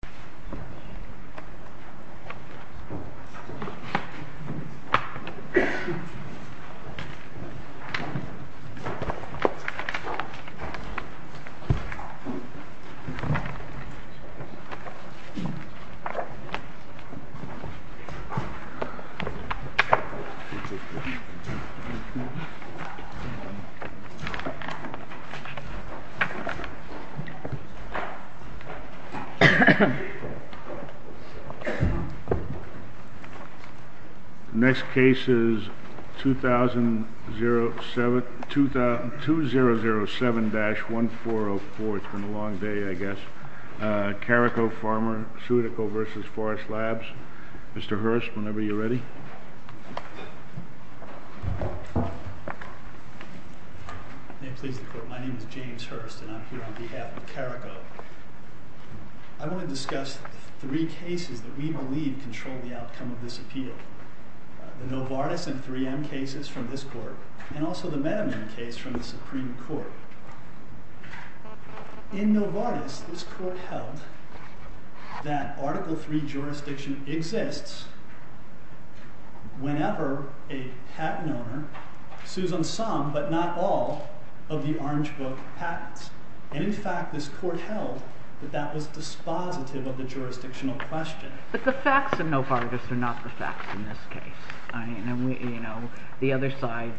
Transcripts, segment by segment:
Companionship of University of North Carolina Next case is 2007-1404, Carrico Farmer, Pseudico vs. Forest Labs. Mr. Hurst, whenever you are ready. May it please the court, my name is James Hurst and I'm here on behalf of Carrico. I want to discuss three cases that we believe control the outcome of this appeal. The Novartis and 3M cases from this court, and also the Madman case from the Supreme Court. In Novartis, this court held that Article III jurisdiction exists whenever a patent owner sues on some, but not all, of the Orange Book patents. And in fact, this court held that that was dispositive of the jurisdictional question. But the facts in Novartis are not the facts in this case. The other side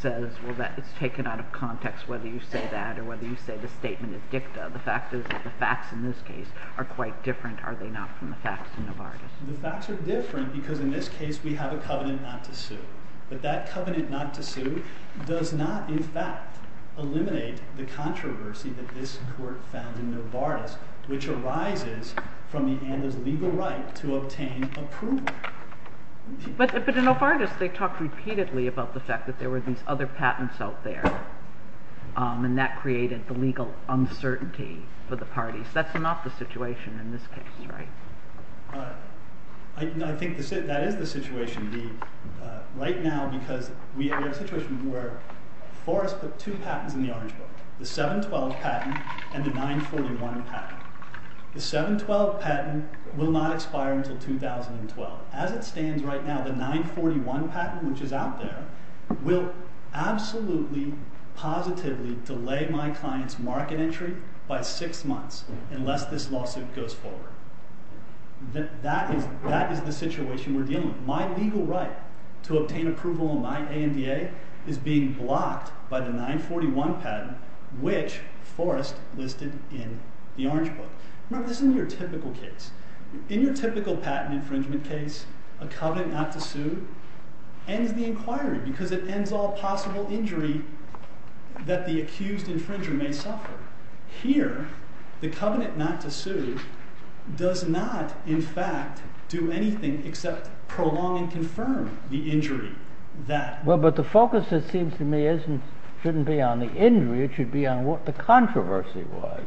says, well that is taken out of context whether you say that or whether you say the statement is dicta. The fact is that the facts in this case are quite different, are they not, from the facts in Novartis? The facts are different because in this case we have a covenant not to sue. But that covenant not to sue does not in fact eliminate the controversy that this court found in Novartis, which arises from the owner's legal right to obtain approval. But in Novartis they talked repeatedly about the fact that there were these other patents out there. And that created the legal uncertainty for the parties. That's not the situation in this case, right? I think that is the situation. Right now, because we have a situation where Forrest put two patents in the Orange Book. The 712 patent and the 941 patent. The 712 patent will not expire until 2012. As it stands right now, the 941 patent, which is out there, will absolutely positively delay my client's market entry by six months unless this lawsuit goes forward. That is the situation we're dealing with. My legal right to obtain approval in my ANDA is being blocked by the 941 patent, which Forrest listed in the Orange Book. Remember, this is your typical case. In your typical patent infringement case, a covenant not to sue ends the inquiry because it ends all possible injury that the accused infringer may suffer. Here, the covenant not to sue does not, in fact, do anything except prolong and confirm the injury. But the focus, it seems to me, shouldn't be on the injury. It should be on what the controversy was.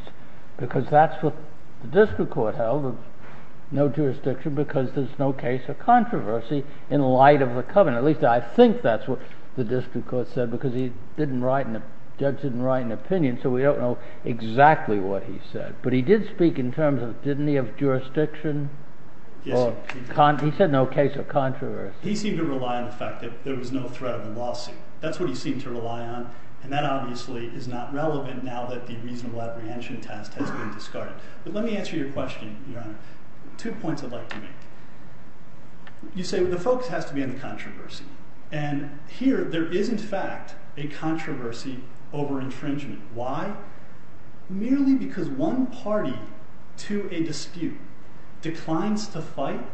Because that's what the district court held. No jurisdiction because there's no case of controversy in light of the covenant. At least I think that's what the district court said because the judge didn't write an opinion. So we don't know exactly what he said. But he did speak in terms of didn't he have jurisdiction? He said no case of controversy. He seemed to rely on the fact that there was no threat of a lawsuit. That's what he seemed to rely on. And that obviously is not relevant now that the reasonable apprehension test has been discarded. But let me answer your question, Your Honor. Two points I'd like to make. You say the focus has to be on the controversy. And here there is, in fact, a controversy over infringement. Why? Merely because one party to a dispute declines to fight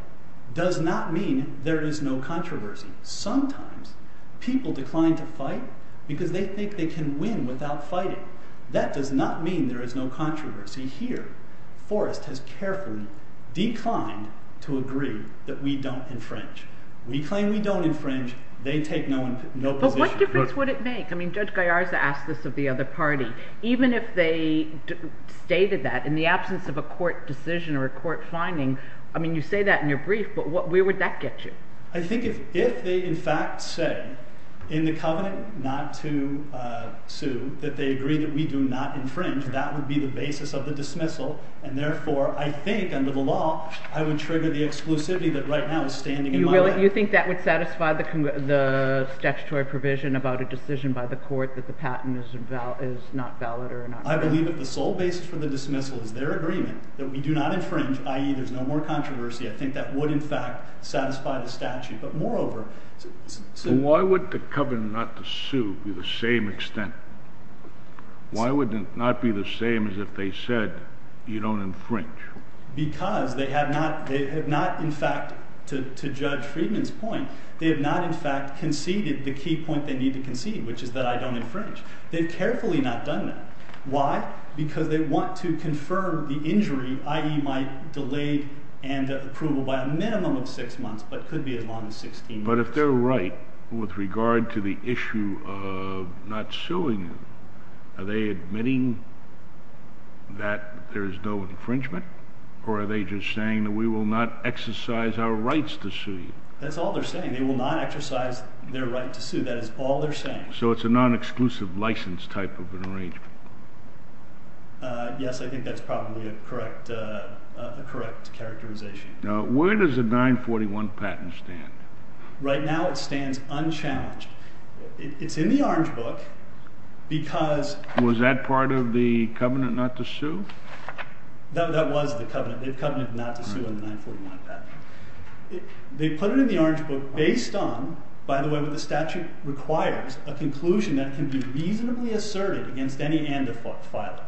does not mean there is no controversy. Sometimes people decline to fight because they think they can win without fighting. That does not mean there is no controversy here. Forrest has carefully declined to agree that we don't infringe. We claim we don't infringe. They take no position. But what difference would it make? I mean Judge Gallarza asked this of the other party. Even if they stated that in the absence of a court decision or a court finding, I mean you say that in your brief, but where would that get you? I think if they in fact said in the covenant not to sue that they agree that we do not infringe, that would be the basis of the dismissal. And therefore, I think under the law, I would trigger the exclusivity that right now is standing in my way. You think that would satisfy the statutory provision about a decision by the court that the patent is not valid or not? I believe that the sole basis for the dismissal is their agreement that we do not infringe, i.e. there is no more controversy. I think that would in fact satisfy the statute. But moreover, why would the covenant not to sue be the same extent? Why would it not be the same as if they said you don't infringe? Because they have not in fact, to Judge Friedman's point, they have not in fact conceded the key point they need to concede, which is that I don't infringe. They've carefully not done that. Why? Because they want to confirm the injury, i.e. my delayed end approval by a minimum of six months, but could be as long as 16 months. But if they're right with regard to the issue of not suing, are they admitting that there is no infringement? Or are they just saying that we will not exercise our rights to sue you? That's all they're saying. They will not exercise their right to sue. That is all they're saying. So it's a non-exclusive license type of an arrangement? Yes, I think that's probably a correct characterization. Now, where does the 941 patent stand? Right now it stands unchallenged. It's in the Orange Book because— Was that part of the covenant not to sue? That was the covenant, the covenant not to sue in the 941 patent. They put it in the Orange Book based on, by the way, what the statute requires, a conclusion that can be reasonably asserted against any and-the-fault filer.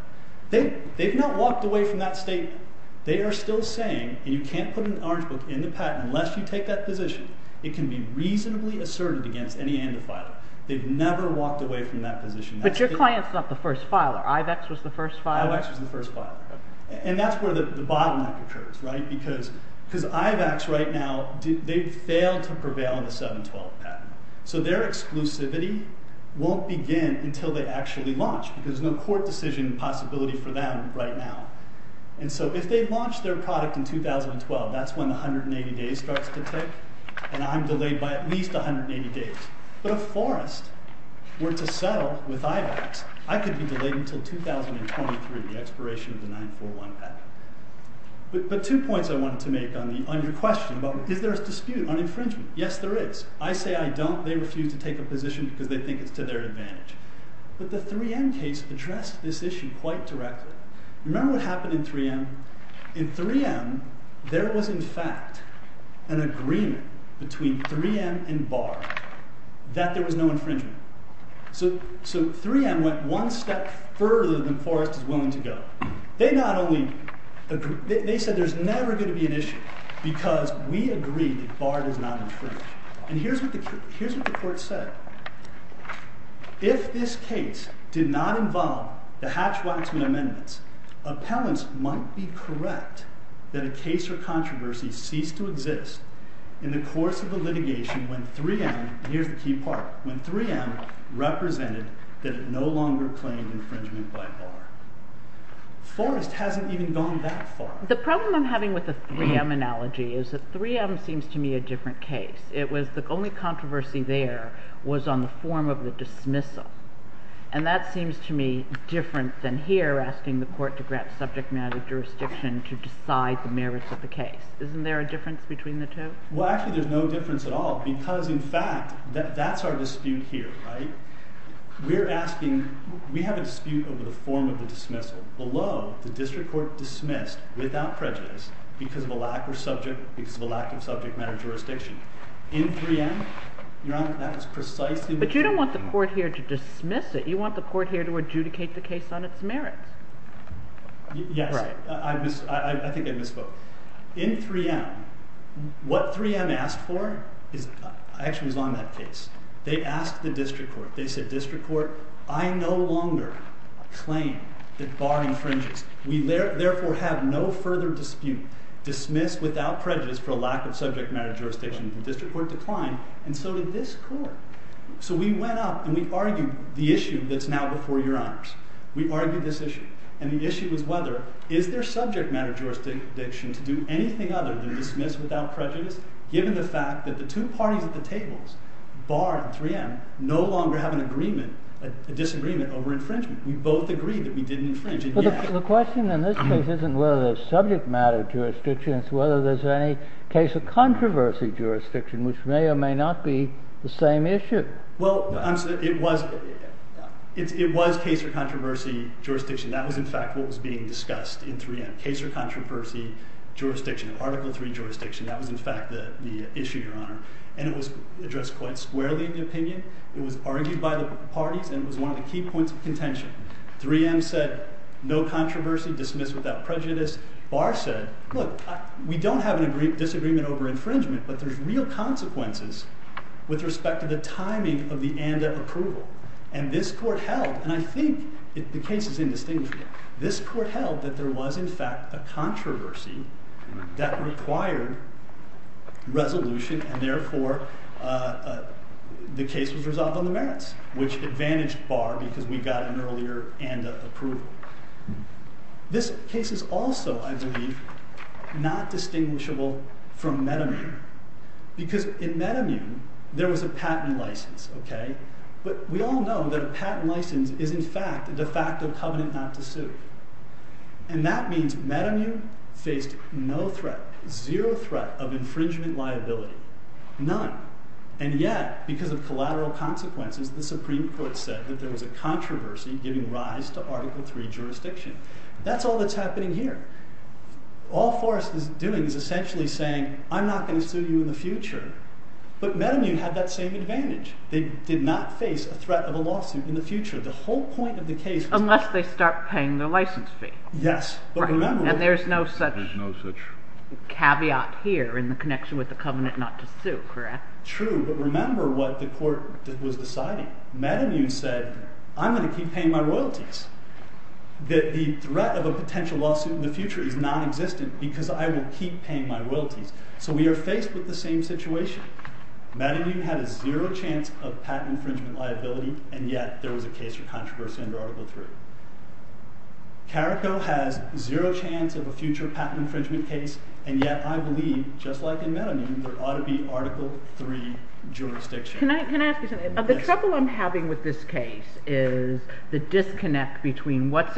They've not walked away from that statement. They are still saying, and you can't put an Orange Book in the patent unless you take that position, it can be reasonably asserted against any and-the-filer. They've never walked away from that position. But your client's not the first filer. IVEX was the first filer? IVEX was the first filer. And that's where the bottleneck occurs, right? Because IVEX right now, they've failed to prevail in the 712 patent. So their exclusivity won't begin until they actually launch because there's no court decision possibility for them right now. And so if they launch their product in 2012, that's when the 180 days starts to take, and I'm delayed by at least 180 days. But if Forrest were to settle with IVEX, I could be delayed until 2023, the expiration of the 941 patent. But two points I wanted to make on your question about, is there a dispute on infringement? Yes, there is. I say I don't. They refuse to take a position because they think it's to their advantage. But the 3M case addressed this issue quite directly. Remember what happened in 3M? In 3M, there was in fact an agreement between 3M and BARD that there was no infringement. So 3M went one step further than Forrest is willing to go. They said there's never going to be an issue because we agree that BARD is not infringed. And here's what the court said. If this case did not involve the Hatch-Waxman amendments, appellants might be correct that a case or controversy ceased to exist in the course of the litigation when 3M, here's the key part, when 3M represented that it no longer claimed infringement by BARD. Forrest hasn't even gone that far. The problem I'm having with the 3M analogy is that 3M seems to me a different case. The only controversy there was on the form of the dismissal. And that seems to me different than here asking the court to grant subject matter jurisdiction to decide the merits of the case. Isn't there a difference between the two? Well, actually there's no difference at all because in fact that's our dispute here. We have a dispute over the form of the dismissal. Below, the district court dismissed without prejudice because of a lack of subject matter jurisdiction. In 3M, that was precisely the case. But you don't want the court here to dismiss it. You want the court here to adjudicate the case on its merits. Yes. I think I misspoke. In 3M, what 3M asked for actually was on that case. They asked the district court. They said, district court, I no longer claim that BARD infringes. We therefore have no further dispute. Dismissed without prejudice for a lack of subject matter jurisdiction. The district court declined and so did this court. So we went up and we argued the issue that's now before your honors. We argued this issue. And the issue was whether is there subject matter jurisdiction to do anything other than dismiss without prejudice given the fact that the two parties at the tables, BARD and 3M, no longer have an agreement, a disagreement over infringement. We both agreed that we didn't infringe. The question in this case isn't whether there's subject matter jurisdiction. It's whether there's any case of controversy jurisdiction, which may or may not be the same issue. Well, it was case of controversy jurisdiction. That was in fact what was being discussed in 3M, case of controversy jurisdiction, Article III jurisdiction. That was in fact the issue, your honor. And it was addressed quite squarely in the opinion. It was argued by the parties and it was one of the key points of contention. 3M said no controversy, dismiss without prejudice. BARD said, look, we don't have a disagreement over infringement, but there's real consequences with respect to the timing of the ANDA approval. And this court held, and I think the case is indistinguishable, this court held that there was in fact a controversy that required resolution and therefore the case was resolved on the merits, which advantaged BARD because we got an earlier ANDA approval. This case is also, I believe, not distinguishable from Metamune because in Metamune there was a patent license, okay? But we all know that a patent license is in fact a de facto covenant not to sue. And that means Metamune faced no threat, zero threat of infringement liability, none. And yet, because of collateral consequences, the Supreme Court said that there was a controversy giving rise to Article III jurisdiction. That's all that's happening here. All Forrest is doing is essentially saying, I'm not going to sue you in the future. But Metamune had that same advantage. They did not face a threat of a lawsuit in the future. The whole point of the case... Unless they start paying their license fee. Yes. And there's no such caveat here in the connection with the covenant not to sue, correct? True, but remember what the court was deciding. Metamune said, I'm going to keep paying my royalties. The threat of a potential lawsuit in the future is non-existent because I will keep paying my royalties. So we are faced with the same situation. Metamune had a zero chance of patent infringement liability, and yet there was a case for controversy under Article III. CARICO has zero chance of a future patent infringement case, and yet I believe, just like in Metamune, there ought to be Article III jurisdiction. Can I ask you something? The trouble I'm having with this case is the disconnect between what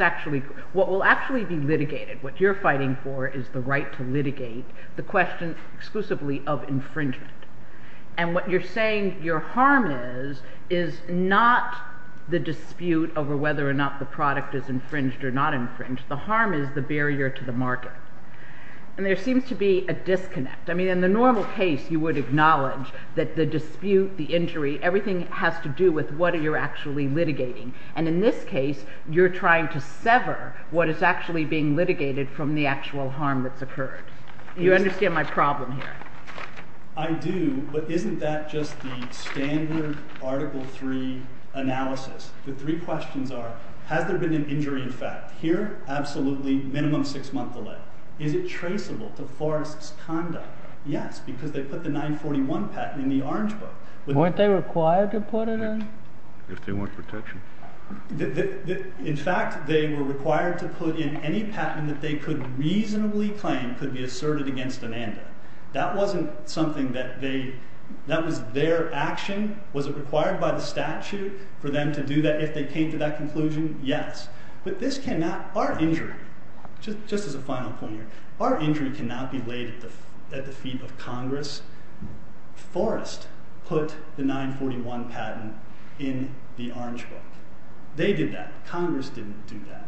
will actually be litigated, what you're fighting for is the right to litigate, the question exclusively of infringement. And what you're saying your harm is is not the dispute over whether or not the product is infringed or not infringed. The harm is the barrier to the market. And there seems to be a disconnect. I mean, in the normal case, you would acknowledge that the dispute, the injury, everything has to do with what you're actually litigating. And in this case, you're trying to sever what is actually being litigated from the actual harm that's occurred. You understand my problem here? I do, but isn't that just the standard Article III analysis? The three questions are, has there been an injury in fact? Here, absolutely, minimum six-month delay. Is it traceable to Forrest's conduct? Yes, because they put the 941 patent in the Orange Book. Weren't they required to put it in? If they want protection. In fact, they were required to put in any patent that they could reasonably claim could be asserted against Amanda. That wasn't something that they, that was their action. Was it required by the statute for them to do that if they came to that conclusion? Yes. But this cannot, our injury, just as a final point here, our injury cannot be laid at the feet of Congress. Forrest put the 941 patent in the Orange Book. They did that. Congress didn't do that.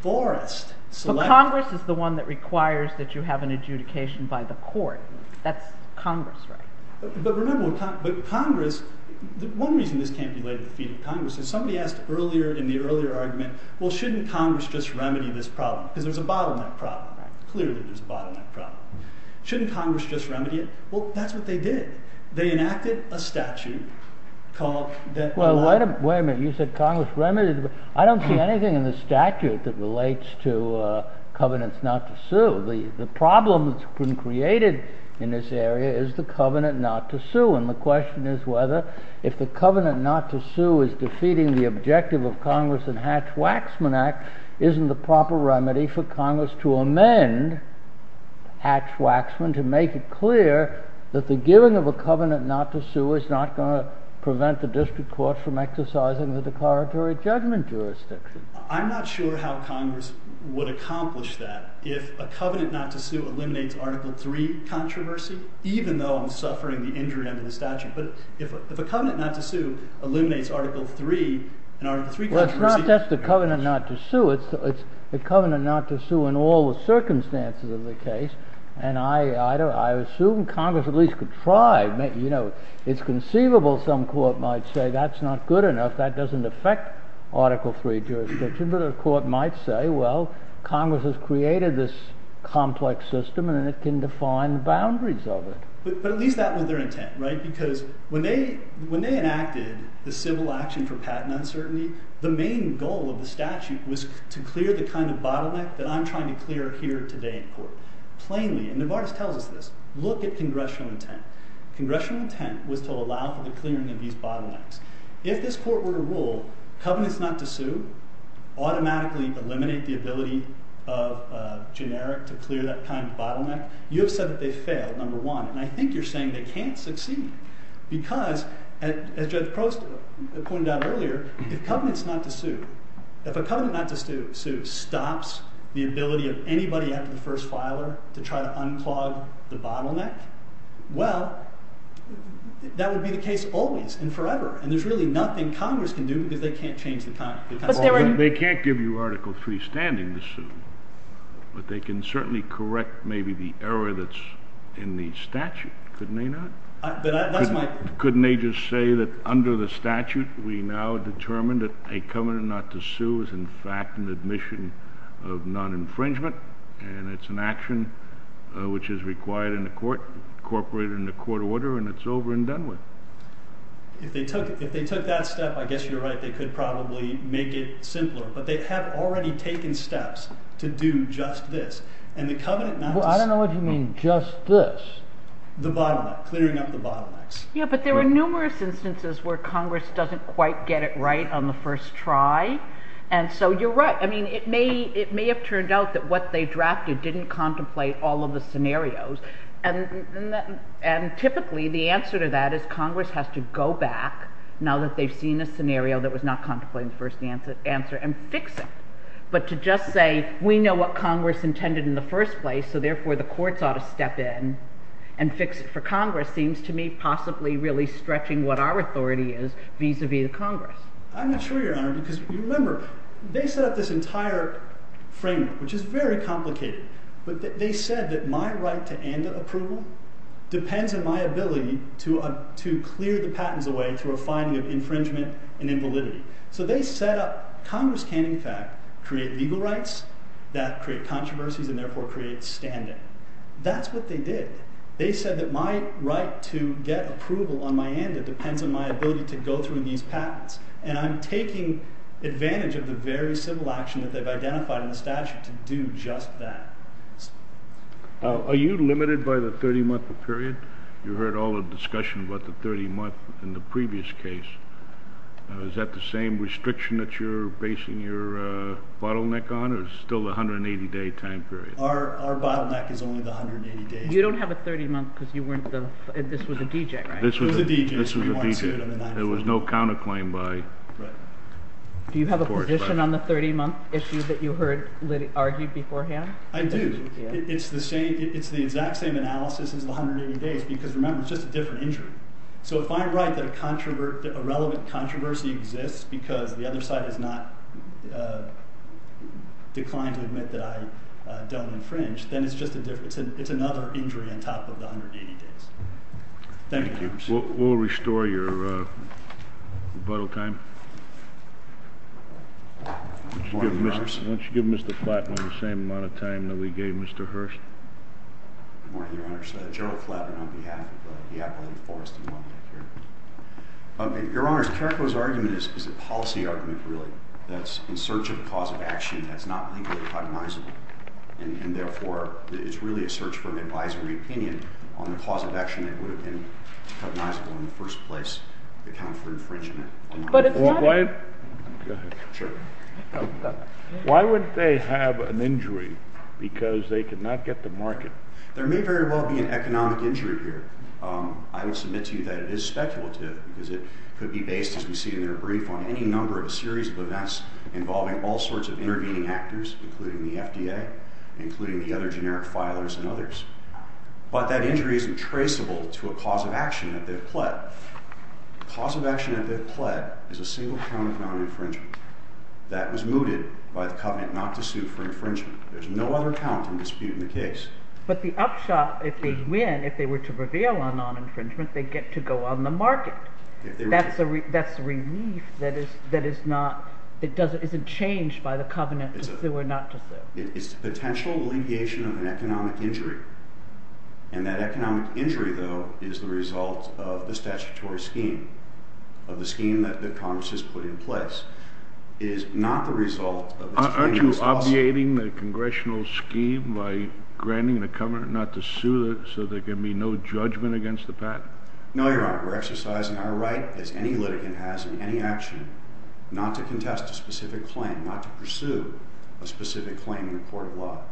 Forrest selected... But Congress is the one that requires that you have an adjudication by the court. That's Congress, right? But remember, but Congress, one reason this can't be laid at the feet of Congress is somebody asked earlier, in the earlier argument, well, shouldn't Congress just remedy this problem? Because there's a bottleneck problem. Clearly, there's a bottleneck problem. Shouldn't Congress just remedy it? Well, that's what they did. They enacted a statute called... Well, wait a minute. You said Congress remedied... I don't see anything in the statute that relates to covenants not to sue. The problem that's been created in this area is the covenant not to sue. And the question is whether if the covenant not to sue is defeating the objective of Congress in Hatch-Waxman Act, isn't the proper remedy for Congress to amend Hatch-Waxman to make it clear that the giving of a covenant not to sue is not going to prevent the district court from exercising the declaratory judgment jurisdiction? I'm not sure how Congress would accomplish that if a covenant not to sue eliminates Article III controversy, even though I'm suffering the injury under the statute. But if a covenant not to sue eliminates Article III, and Article III controversy... Well, it's not just a covenant not to sue. It's a covenant not to sue in all the circumstances of the case. And I assume Congress at least could try. It's conceivable some court might say, that's not good enough, that doesn't affect Article III jurisdiction. But a court might say, well, Congress has created this complex system and it can define the boundaries of it. But at least that was their intent, right? Because when they enacted the Civil Action for Patent Uncertainty, the main goal of the statute was to clear the kind of bottleneck that I'm trying to clear here today in court, plainly. And Novartis tells us this. Look at congressional intent. Congressional intent was to allow for the clearing of these bottlenecks. If this court were to rule, covenants not to sue automatically eliminate the ability of generic to clear that kind of bottleneck, you have said that they failed, number one. And I think you're saying they can't succeed. Because, as Judge Prost pointed out earlier, if a covenant not to sue stops the ability of anybody after the first filer to try to unclog the bottleneck, well, that would be the case always and forever. And there's really nothing Congress can do because they can't change the time. They can't give you Article III standing to sue, but they can certainly correct maybe the error that's in the statute, couldn't they not? Couldn't they just say that under the statute we now determine that a covenant not to sue is in fact an admission of non-infringement and it's an action which is required in the court, incorporated in the court order, and it's over and done with? If they took that step, I guess you're right, they could probably make it simpler. But they have already taken steps to do just this. And the covenant not to sue... Well, I don't know what you mean, just this. The bottleneck, clearing up the bottlenecks. Yeah, but there are numerous instances where Congress doesn't quite get it right on the first try. And so you're right. I mean, it may have turned out that what they drafted didn't contemplate all of the scenarios. And typically the answer to that is Congress has to go back, now that they've seen a scenario that was not contemplated in the first answer, and fix it. But to just say, we know what Congress intended in the first place, so therefore the courts ought to step in and fix it for Congress seems to me possibly really stretching what our authority is vis-à-vis Congress. I'm not sure, Your Honor, because remember, they set up this entire framework, which is very complicated. But they said that my right to ANDA approval depends on my ability to clear the patents away through a finding of infringement and invalidity. So they set up... Congress can, in fact, create legal rights that create controversies and therefore create standing. That's what they did. They said that my right to get approval on my ANDA depends on my ability to go through these patents. And I'm taking advantage of the very civil action that they've identified in the statute to do just that. Are you limited by the 30-month period? You heard all the discussion about the 30-month in the previous case. Is that the same restriction that you're basing your bottleneck on, or is it still the 180-day time period? Our bottleneck is only the 180-day. You don't have a 30-month because you weren't the... This was a D.J., right? This was a D.J. This was a D.J. There was no counterclaim by... Do you have a position on the 30-month issue that you heard argued beforehand? I do. It's the exact same analysis as the 180 days because, remember, it's just a different injury. So if I'm right that a relevant controversy exists because the other side has not declined to admit that I don't infringe, then it's another injury on top of the 180 days. Thank you. We'll restore your rebuttal time. Why don't you give Mr. Flattman the same amount of time that we gave Mr. Hurst? Good morning, Your Honor. Gerald Flattman on behalf of the Appalachian Forest and Wildlife Care. Your Honor, Carrico's argument is a policy argument, really, that's in search of a cause of action that's not legally cognizable, and therefore it's really a search for an advisory opinion on the cause of action that would have been cognizable in the first place to account for infringement. But it's not a... Go ahead. Sure. Why would they have an injury because they could not get the market? There may very well be an economic injury here. I would submit to you that it is speculative because it could be based, as we see in their brief, on any number of a series of events involving all sorts of intervening actors, including the FDA, including the other generic filers and others. But that injury isn't traceable to a cause of action that they've pled. The cause of action that they've pled is a single count of non-infringement that was mooted by the covenant not to sue for infringement. There's no other count in dispute in the case. But the upshot, if they win, if they were to prevail on non-infringement, they get to go on the market. That's a relief that isn't changed by the covenant to sue or not to sue. It's a potential alleviation of an economic injury, and that economic injury, though, is the result of the statutory scheme, of the scheme that the Congress has put in place. It is not the result of the... Aren't you obviating the congressional scheme by granting the covenant not to sue so there can be no judgment against the patent? No, Your Honor. We're exercising our right, as any litigant has in any action, not to contest a specific claim, not to pursue a specific claim in a court of law.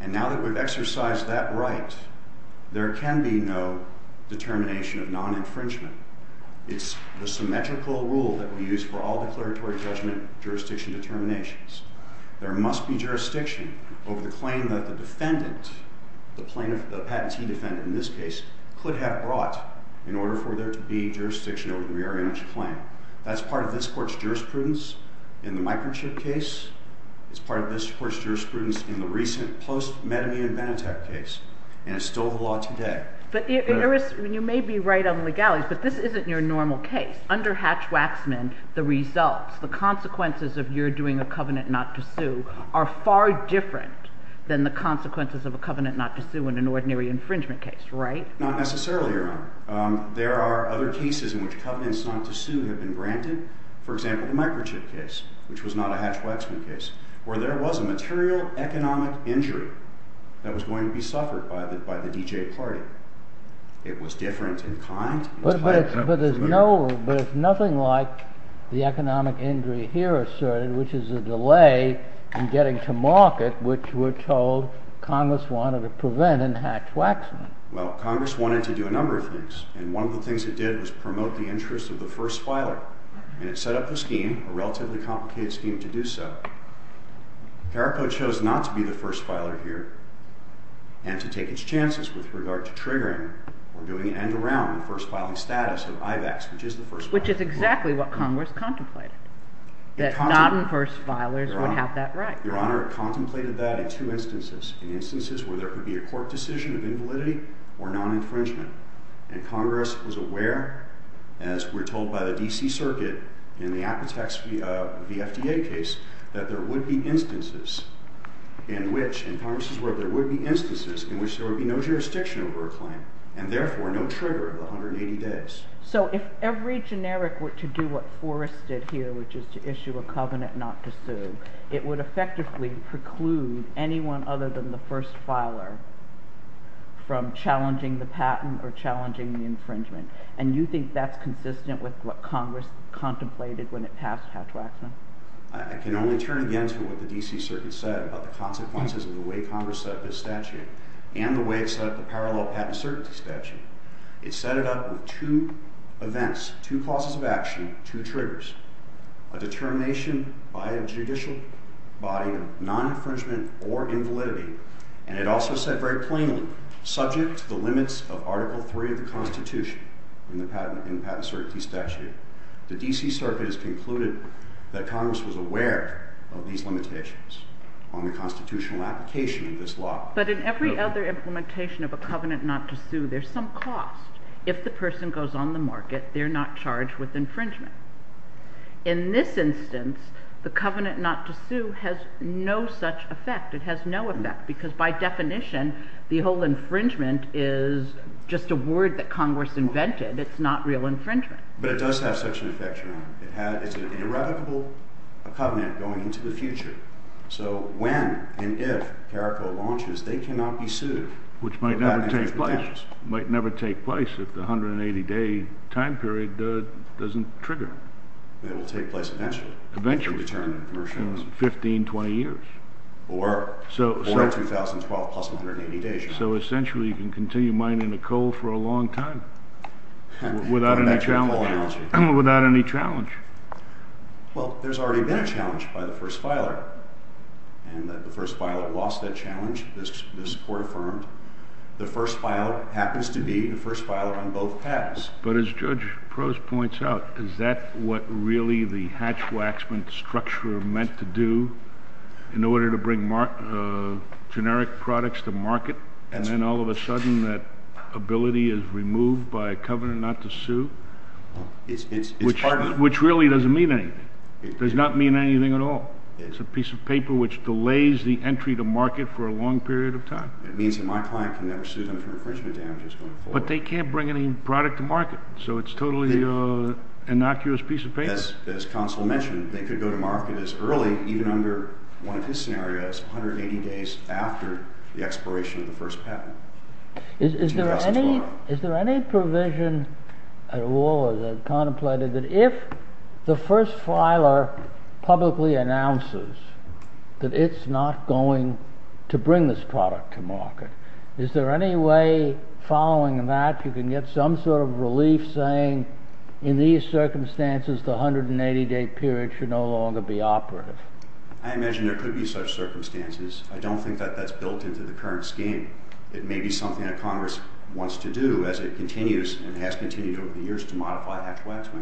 And now that we've exercised that right, there can be no determination of non-infringement. It's the symmetrical rule that we use for all declaratory judgment jurisdiction determinations. There must be jurisdiction over the claim that the defendant, the patentee defendant in this case, could have brought in order for there to be jurisdiction over the rear image claim. That's part of this court's jurisprudence in the microchip case. It's part of this court's jurisprudence in the recent post-Metamine and Benetech case. And it's still the law today. But you may be right on legalities, but this isn't your normal case. Under Hatch-Waxman, the results, the consequences of your doing a covenant not to sue are far different than the consequences of a covenant not to sue Not necessarily, Your Honor. There are other cases in which covenants not to sue have been granted. For example, the microchip case, which was not a Hatch-Waxman case, where there was a material economic injury that was going to be suffered by the DJ party. It was different in kind. But there's nothing like the economic injury here asserted, which is a delay in getting to market, which we're told Congress wanted to prevent in Hatch-Waxman. Well, Congress wanted to do a number of things. And one of the things it did was promote the interest of the first filer. And it set up a scheme, a relatively complicated scheme, to do so. CARACO chose not to be the first filer here and to take its chances with regard to triggering or doing an end around the first filing status of IVACS, which is the first filer. Which is exactly what Congress contemplated, that non-first filers would have that right. Your Honor, it contemplated that in two instances. In instances where there could be a court decision of invalidity or non-infringement. And Congress was aware, as we're told by the D.C. Circuit, in the Apotex v. FDA case, that there would be instances in which, in Congress's word, there would be instances in which there would be no jurisdiction over a claim and therefore no trigger of 180 days. So if every generic were to do what Forrest did here, which is to issue a covenant not to sue, it would effectively preclude anyone other than the first filer from challenging the patent or challenging the infringement. And you think that's consistent with what Congress contemplated when it passed Hatch-Waxman? I can only turn again to what the D.C. Circuit said about the consequences of the way Congress set up this statute and the way it set up the parallel patent certainty statute. It set it up with two events, two causes of action, two triggers. A determination by a judicial body of non-infringement or invalidity. And it also said very plainly, subject to the limits of Article III of the Constitution in the patent certainty statute, the D.C. Circuit has concluded that Congress was aware of these limitations on the constitutional application of this law. But in every other implementation of a covenant not to sue, there's some cost. If the person goes on the market, they're not charged with infringement. In this instance, the covenant not to sue has no such effect. It has no effect, because by definition, the whole infringement is just a word that Congress invented. It's not real infringement. But it does have such an effect, Your Honor. It's an irrevocable covenant going into the future. So when and if CARICO launches, they cannot be sued. Which might never take place. Might never take place if the 180-day time period doesn't trigger. It will take place eventually. Eventually. 15, 20 years. Or 2012 plus 180 days, Your Honor. So essentially you can continue mining the coal for a long time without any challenge. Without any challenge. Well, there's already been a challenge by the first filer. And the first filer lost that challenge. This court affirmed. The first filer happens to be the first filer on both paths. But as Judge Prost points out, is that what really the hatch-waxman structure meant to do in order to bring generic products to market? And then all of a sudden that ability is removed by a covenant not to sue? It's part of it. Which really doesn't mean anything. It does not mean anything at all. It's a piece of paper which delays the entry to market for a long period of time. It means that my client can never sue them for infringement damages going forward. But they can't bring any product to market. So it's totally an innocuous piece of paper. As counsel mentioned, they could go to market as early, even under one of his scenarios, 180 days after the expiration of the first patent. Is there any provision at all that contemplated that if the first filer publicly announces that it's not going to bring this product to market, is there any way following that you can get some sort of relief saying in these circumstances the 180-day period should no longer be operative? I imagine there could be such circumstances. I don't think that that's built into the current scheme. It may be something that Congress wants to do as it continues and has continued over the years to modify Hatch-Watt's way.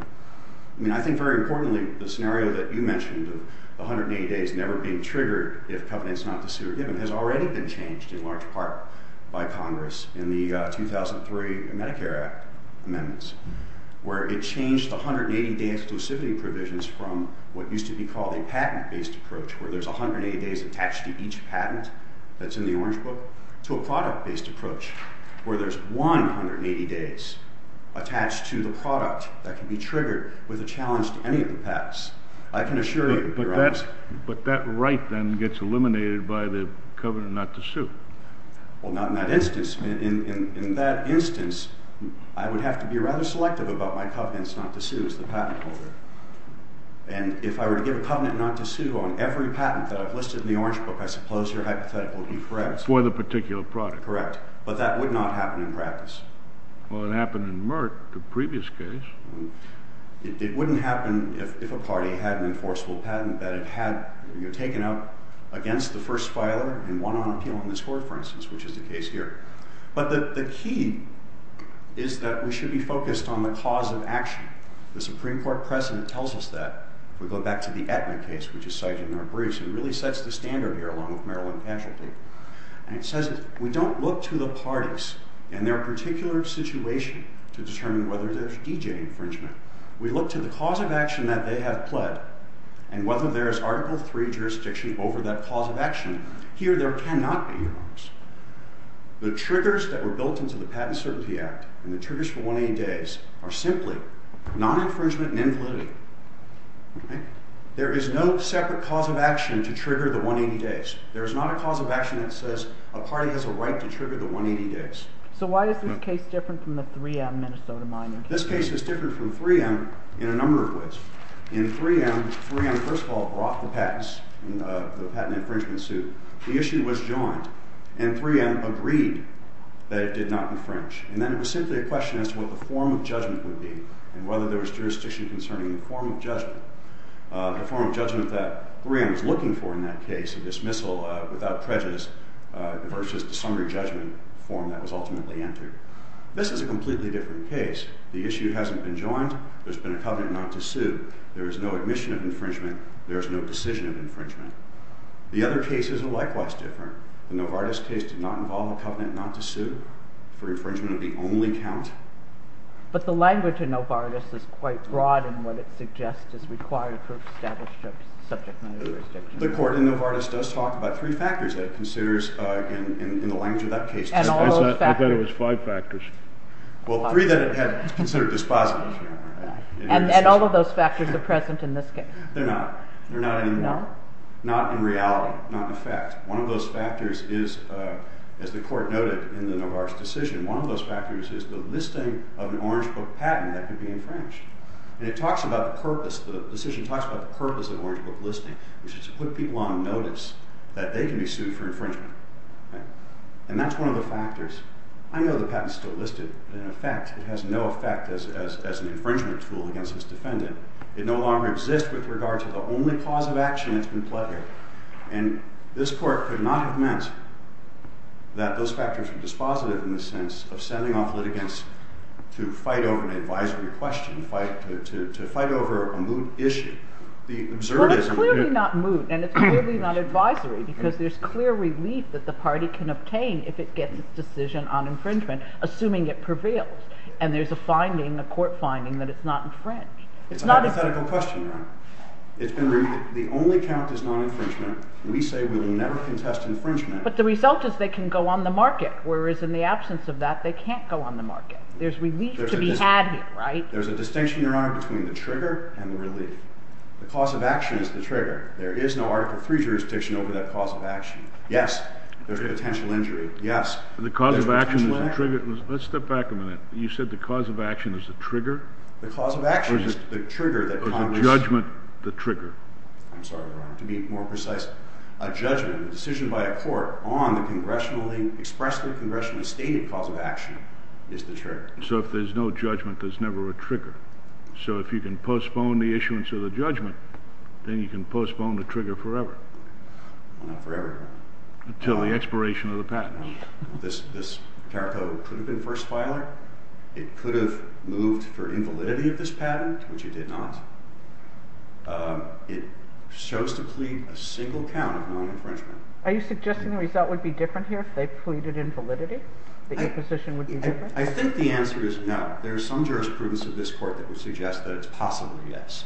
I think very importantly the scenario that you mentioned, the 180 days never being triggered if covenants not to sue are given, has already been changed in large part by Congress in the 2003 Medicare Act amendments where it changed the 180-day exclusivity provisions from what used to be called a patent-based approach where there's 180 days attached to each patent that's in the Orange Book to a product-based approach where there's 180 days attached to the product that can be triggered with a challenge to any of the patents. I can assure you, Your Honor. But that right then gets eliminated by the covenant not to sue. Well, not in that instance. In that instance, I would have to be rather selective about my covenants not to sue as the patent holder. And if I were to give a covenant not to sue on every patent that I've listed in the Orange Book, I suppose your hypothetical would be correct. For the particular product. Correct. But that would not happen in practice. Well, it happened in Merck, the previous case. It wouldn't happen if a party had an enforceable patent that it had taken out against the first filer and won on appeal in this court, for instance, which is the case here. But the key is that we should be focused on the cause of action. The Supreme Court precedent tells us that. If we go back to the Aetna case, which is cited in our briefs, it really sets the standard here along with Maryland casualty. And it says that we don't look to the parties and their particular situation to determine whether there's DJ infringement. We look to the cause of action that they have pled and whether there is Article III jurisdiction over that cause of action. Here there cannot be, Your Honor. The triggers that were built into the Patent Certainty Act and the triggers for 1A days are simply non-infringement and invalidity. There is no separate cause of action to trigger the 1A days. There is not a cause of action that says a party has a right to trigger the 1A days. So why is this case different from the 3M Minnesota mining case? This case is different from 3M in a number of ways. In 3M, 3M first of all brought the patents, the patent infringement suit. The issue was joined. And 3M agreed that it did not infringe. And then it was simply a question as to what the form of judgment would be and whether there was jurisdiction concerning the form of judgment. The form of judgment that 3M was looking for in that case, a dismissal without prejudice, versus the summary judgment form that was ultimately entered. This is a completely different case. The issue hasn't been joined. There's been a covenant not to sue. There is no admission of infringement. There is no decision of infringement. The other cases are likewise different. The Novartis case did not involve a covenant not to sue for infringement of the only count. But the language in Novartis is quite broad in what it suggests is required for establishment of subject matter jurisdiction. The court in Novartis does talk about three factors that it considers in the language of that case. I thought it was five factors. Well, three that it had considered dispositive. And all of those factors are present in this case. They're not. They're not anymore. Not in reality. Not in effect. One of those factors is, as the court noted in the Novartis decision, one of those factors is the listing of an Orange Book patent that could be infringed. And it talks about the purpose. The decision talks about the purpose of Orange Book listing, which is to put people on notice that they can be sued for infringement. And that's one of the factors. I know the patent's still listed. In effect, it has no effect as an infringement tool against its defendant. It no longer exists with regard to the only cause of action that's been pledged. And this court could not have meant that those factors were dispositive in the sense of sending off litigants to fight over an advisory question, to fight over a moot issue. But it's clearly not moot, and it's clearly not advisory, because there's clear relief that the party can obtain if it gets its decision on infringement, assuming it prevails. And there's a court finding that it's not infringed. It's a hypothetical question, Your Honor. The only count is non-infringement. We say we will never contest infringement. But the result is they can go on the market, whereas in the absence of that, they can't go on the market. There's relief to be had here, right? There's a distinction, Your Honor, between the trigger and the relief. The cause of action is the trigger. There is no Article III jurisdiction over that cause of action. Yes, there's potential injury. Yes, there's potential injury. The cause of action is the trigger? Let's step back a minute. You said the cause of action is the trigger? The cause of action is the trigger that Congress... Or the judgment, the trigger. I'm sorry, Your Honor. To be more precise, a judgment, a decision by a court on the expressly congressionally stated cause of action is the trigger. So if there's no judgment, there's never a trigger. So if you can postpone the issuance of the judgment, then you can postpone the trigger forever. Well, not forever, Your Honor. Until the expiration of the patent. This tariff code could have been first filed. It could have moved for invalidity of this patent, which it did not. It shows to plead a single count of non-infringement. Are you suggesting the result would be different here if they pleaded invalidity? That your position would be different? I think the answer is no. There is some jurisprudence of this court that would suggest that it's possibly yes,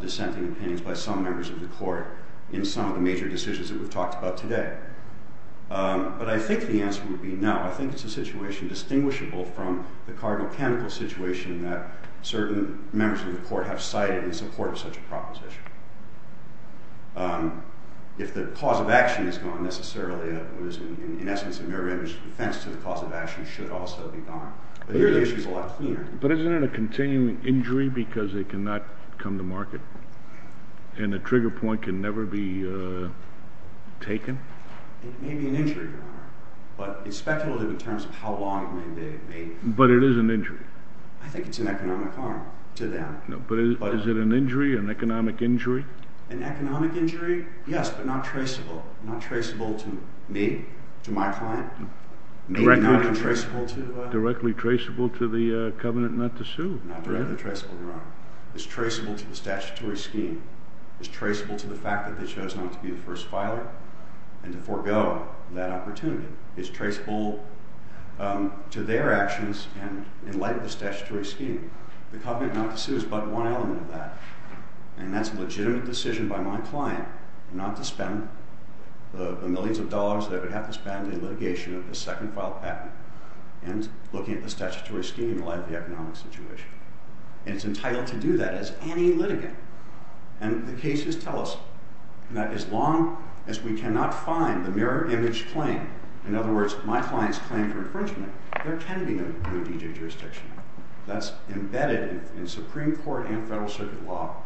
dissenting opinions by some members of the court in some of the major decisions that we've talked about today. But I think the answer would be no. I think it's a situation distinguishable from the cardinal canonical situation that certain members of the court have cited in support of such a proposition. If the cause of action is gone necessarily, what is in essence a mirror-image defense to the cause of action should also be gone. But here the issue is a lot cleaner. But isn't it a continuing injury because it cannot come to market? And the trigger point can never be taken? It may be an injury, Your Honor. But it's speculative in terms of how long it may be. But it is an injury. I think it's an economic harm to them. But is it an injury, an economic injury? An economic injury, yes, but not traceable. Not traceable to me, to my client. Directly traceable to the covenant not to sue? Not directly traceable, Your Honor. It's traceable to the statutory scheme. It's traceable to the fact that they chose not to be the first filer and to forego that opportunity. It's traceable to their actions in light of the statutory scheme. The covenant not to sue is but one element of that. And that's a legitimate decision by my client not to spend the millions of dollars that I would have to spend in litigation of the second filed patent and looking at the statutory scheme in light of the economic situation. And it's entitled to do that as any litigant. And the cases tell us that as long as we cannot find the mirror-image claim, in other words, my client's claim for infringement, there can be no D.J. jurisdiction. That's embedded in Supreme Court and federal circuit law,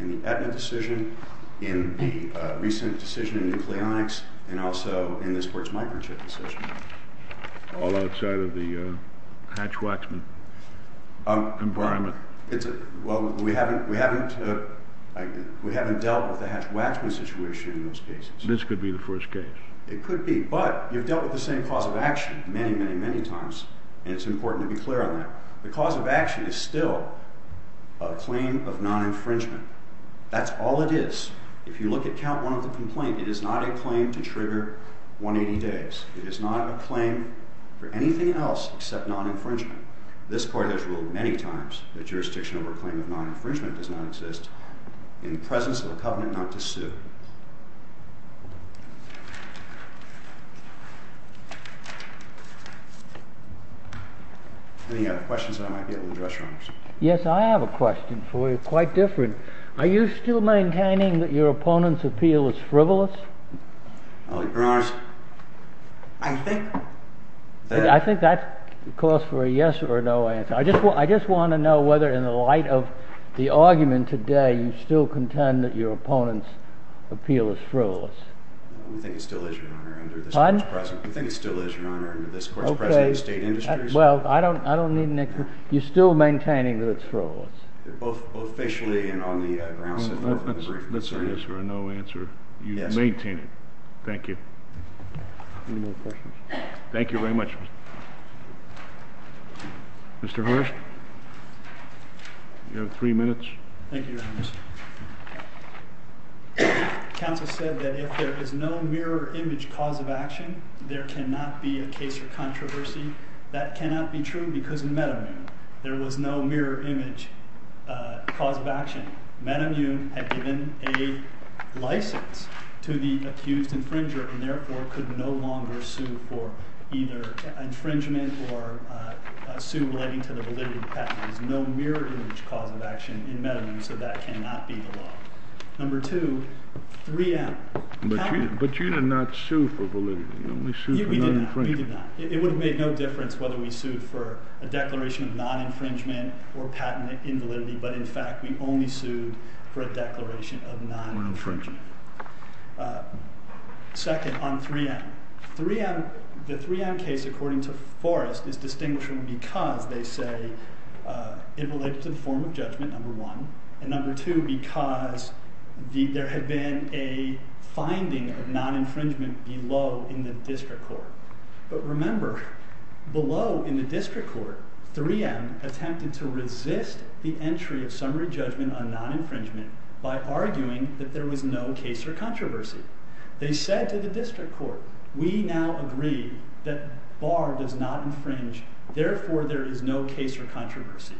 in the Aetna decision, in the recent decision in nucleonics, and also in the sports microchip decision. All outside of the hatch-waxman environment. Well, we haven't dealt with the hatch-waxman situation in those cases. This could be the first case. It could be. But you've dealt with the same cause of action many, many, many times, and it's important to be clear on that. The cause of action is still a claim of non-infringement. That's all it is. If you look at Count 1 of the complaint, it is not a claim to trigger 180 days. It is not a claim for anything else except non-infringement. This court has ruled many times that jurisdiction over a claim of non-infringement does not exist in the presence of a covenant not to sue. Any other questions that I might be able to address, Your Honors? Yes, I have a question for you, quite different. Are you still maintaining that your opponent's appeal is frivolous? Your Honors, I think that... I think that calls for a yes or a no answer. I just want to know whether, in the light of the argument today, you still contend that your opponent's appeal is frivolous. Pardon? Well, I don't need an answer. You're still maintaining that it's frivolous? Both facially and on the grounds of the brief. Let's say yes or a no answer. You maintain it. Thank you. Any more questions? Thank you very much. Mr. Hurst? You have three minutes. Thank you, Your Honors. Counsel said that if there is no mirror image cause of action, there cannot be a case for controversy. That cannot be true because in Meadowmune, there was no mirror image cause of action. Meadowmune had given a license to the accused infringer and therefore could no longer sue for either infringement or sue relating to the validity of patents. There's no mirror image cause of action in Meadowmune, so that cannot be the law. Number two, three out. But you did not sue for validity. You only sued for non-infringement. We did not. It would have made no difference whether we sued for a declaration of non-infringement or patent invalidity, but in fact, we only sued for a declaration of non-infringement. Second, on 3M. The 3M case, according to Forrest, is distinguishing because, they say, in relation to the form of judgment, number one, and number two, because there had been a finding of non-infringement below in the district court. But remember, below in the district court, 3M attempted to resist the entry of summary judgment on non-infringement by arguing that there was no case for controversy. They said to the district court, we now agree that Barr does not infringe, therefore there is no case for controversy.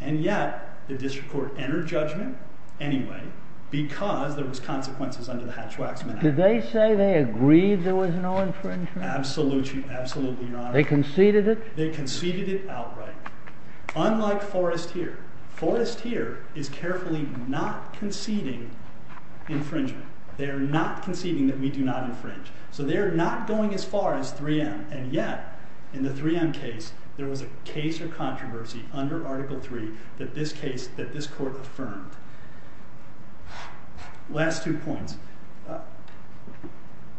And yet, the district court entered judgment anyway, because there was consequences under the Hatch-Waxman Act. Did they say they agreed there was no infringement? Absolutely, Your Honor. They conceded it? They conceded it outright. Unlike Forrest here. Forrest here is carefully not conceding infringement. They are not conceding that we do not infringe. So they are not going as far as 3M. And yet, in the 3M case, there was a case for controversy under Article 3 that this court affirmed. Last two points.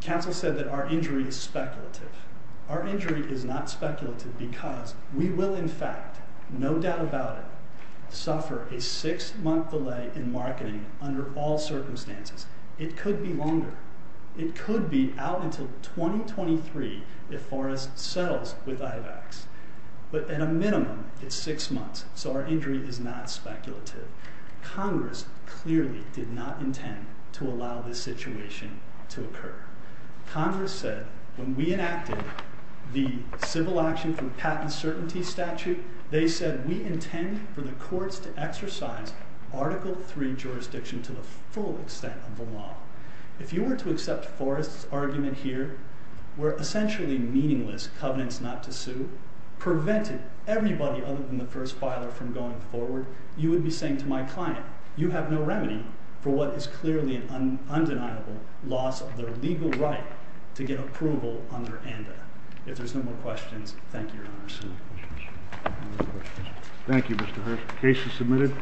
Counsel said that our injury is speculative. Our injury is not speculative because we will, in fact, no doubt about it, suffer a six-month delay in marketing under all circumstances. It could be longer. It could be out until 2023 if Forrest settles with IVACS. But at a minimum, it's six months. So our injury is not speculative. Congress clearly did not intend to allow this situation to occur. Congress said when we enacted the civil action through patent certainty statute, they said we intend for the courts to exercise Article 3 jurisdiction to the full extent of the law. If you were to accept Forrest's argument here, where essentially meaningless covenants not to sue prevented everybody other than the first filer from going forward, you would be saying to my client, you have no remedy for what is clearly an undeniable loss of their legal right to get approval under ANDA. If there's no more questions, thank you, Your Honor. Thank you, Mr. Hearst. The case is submitted.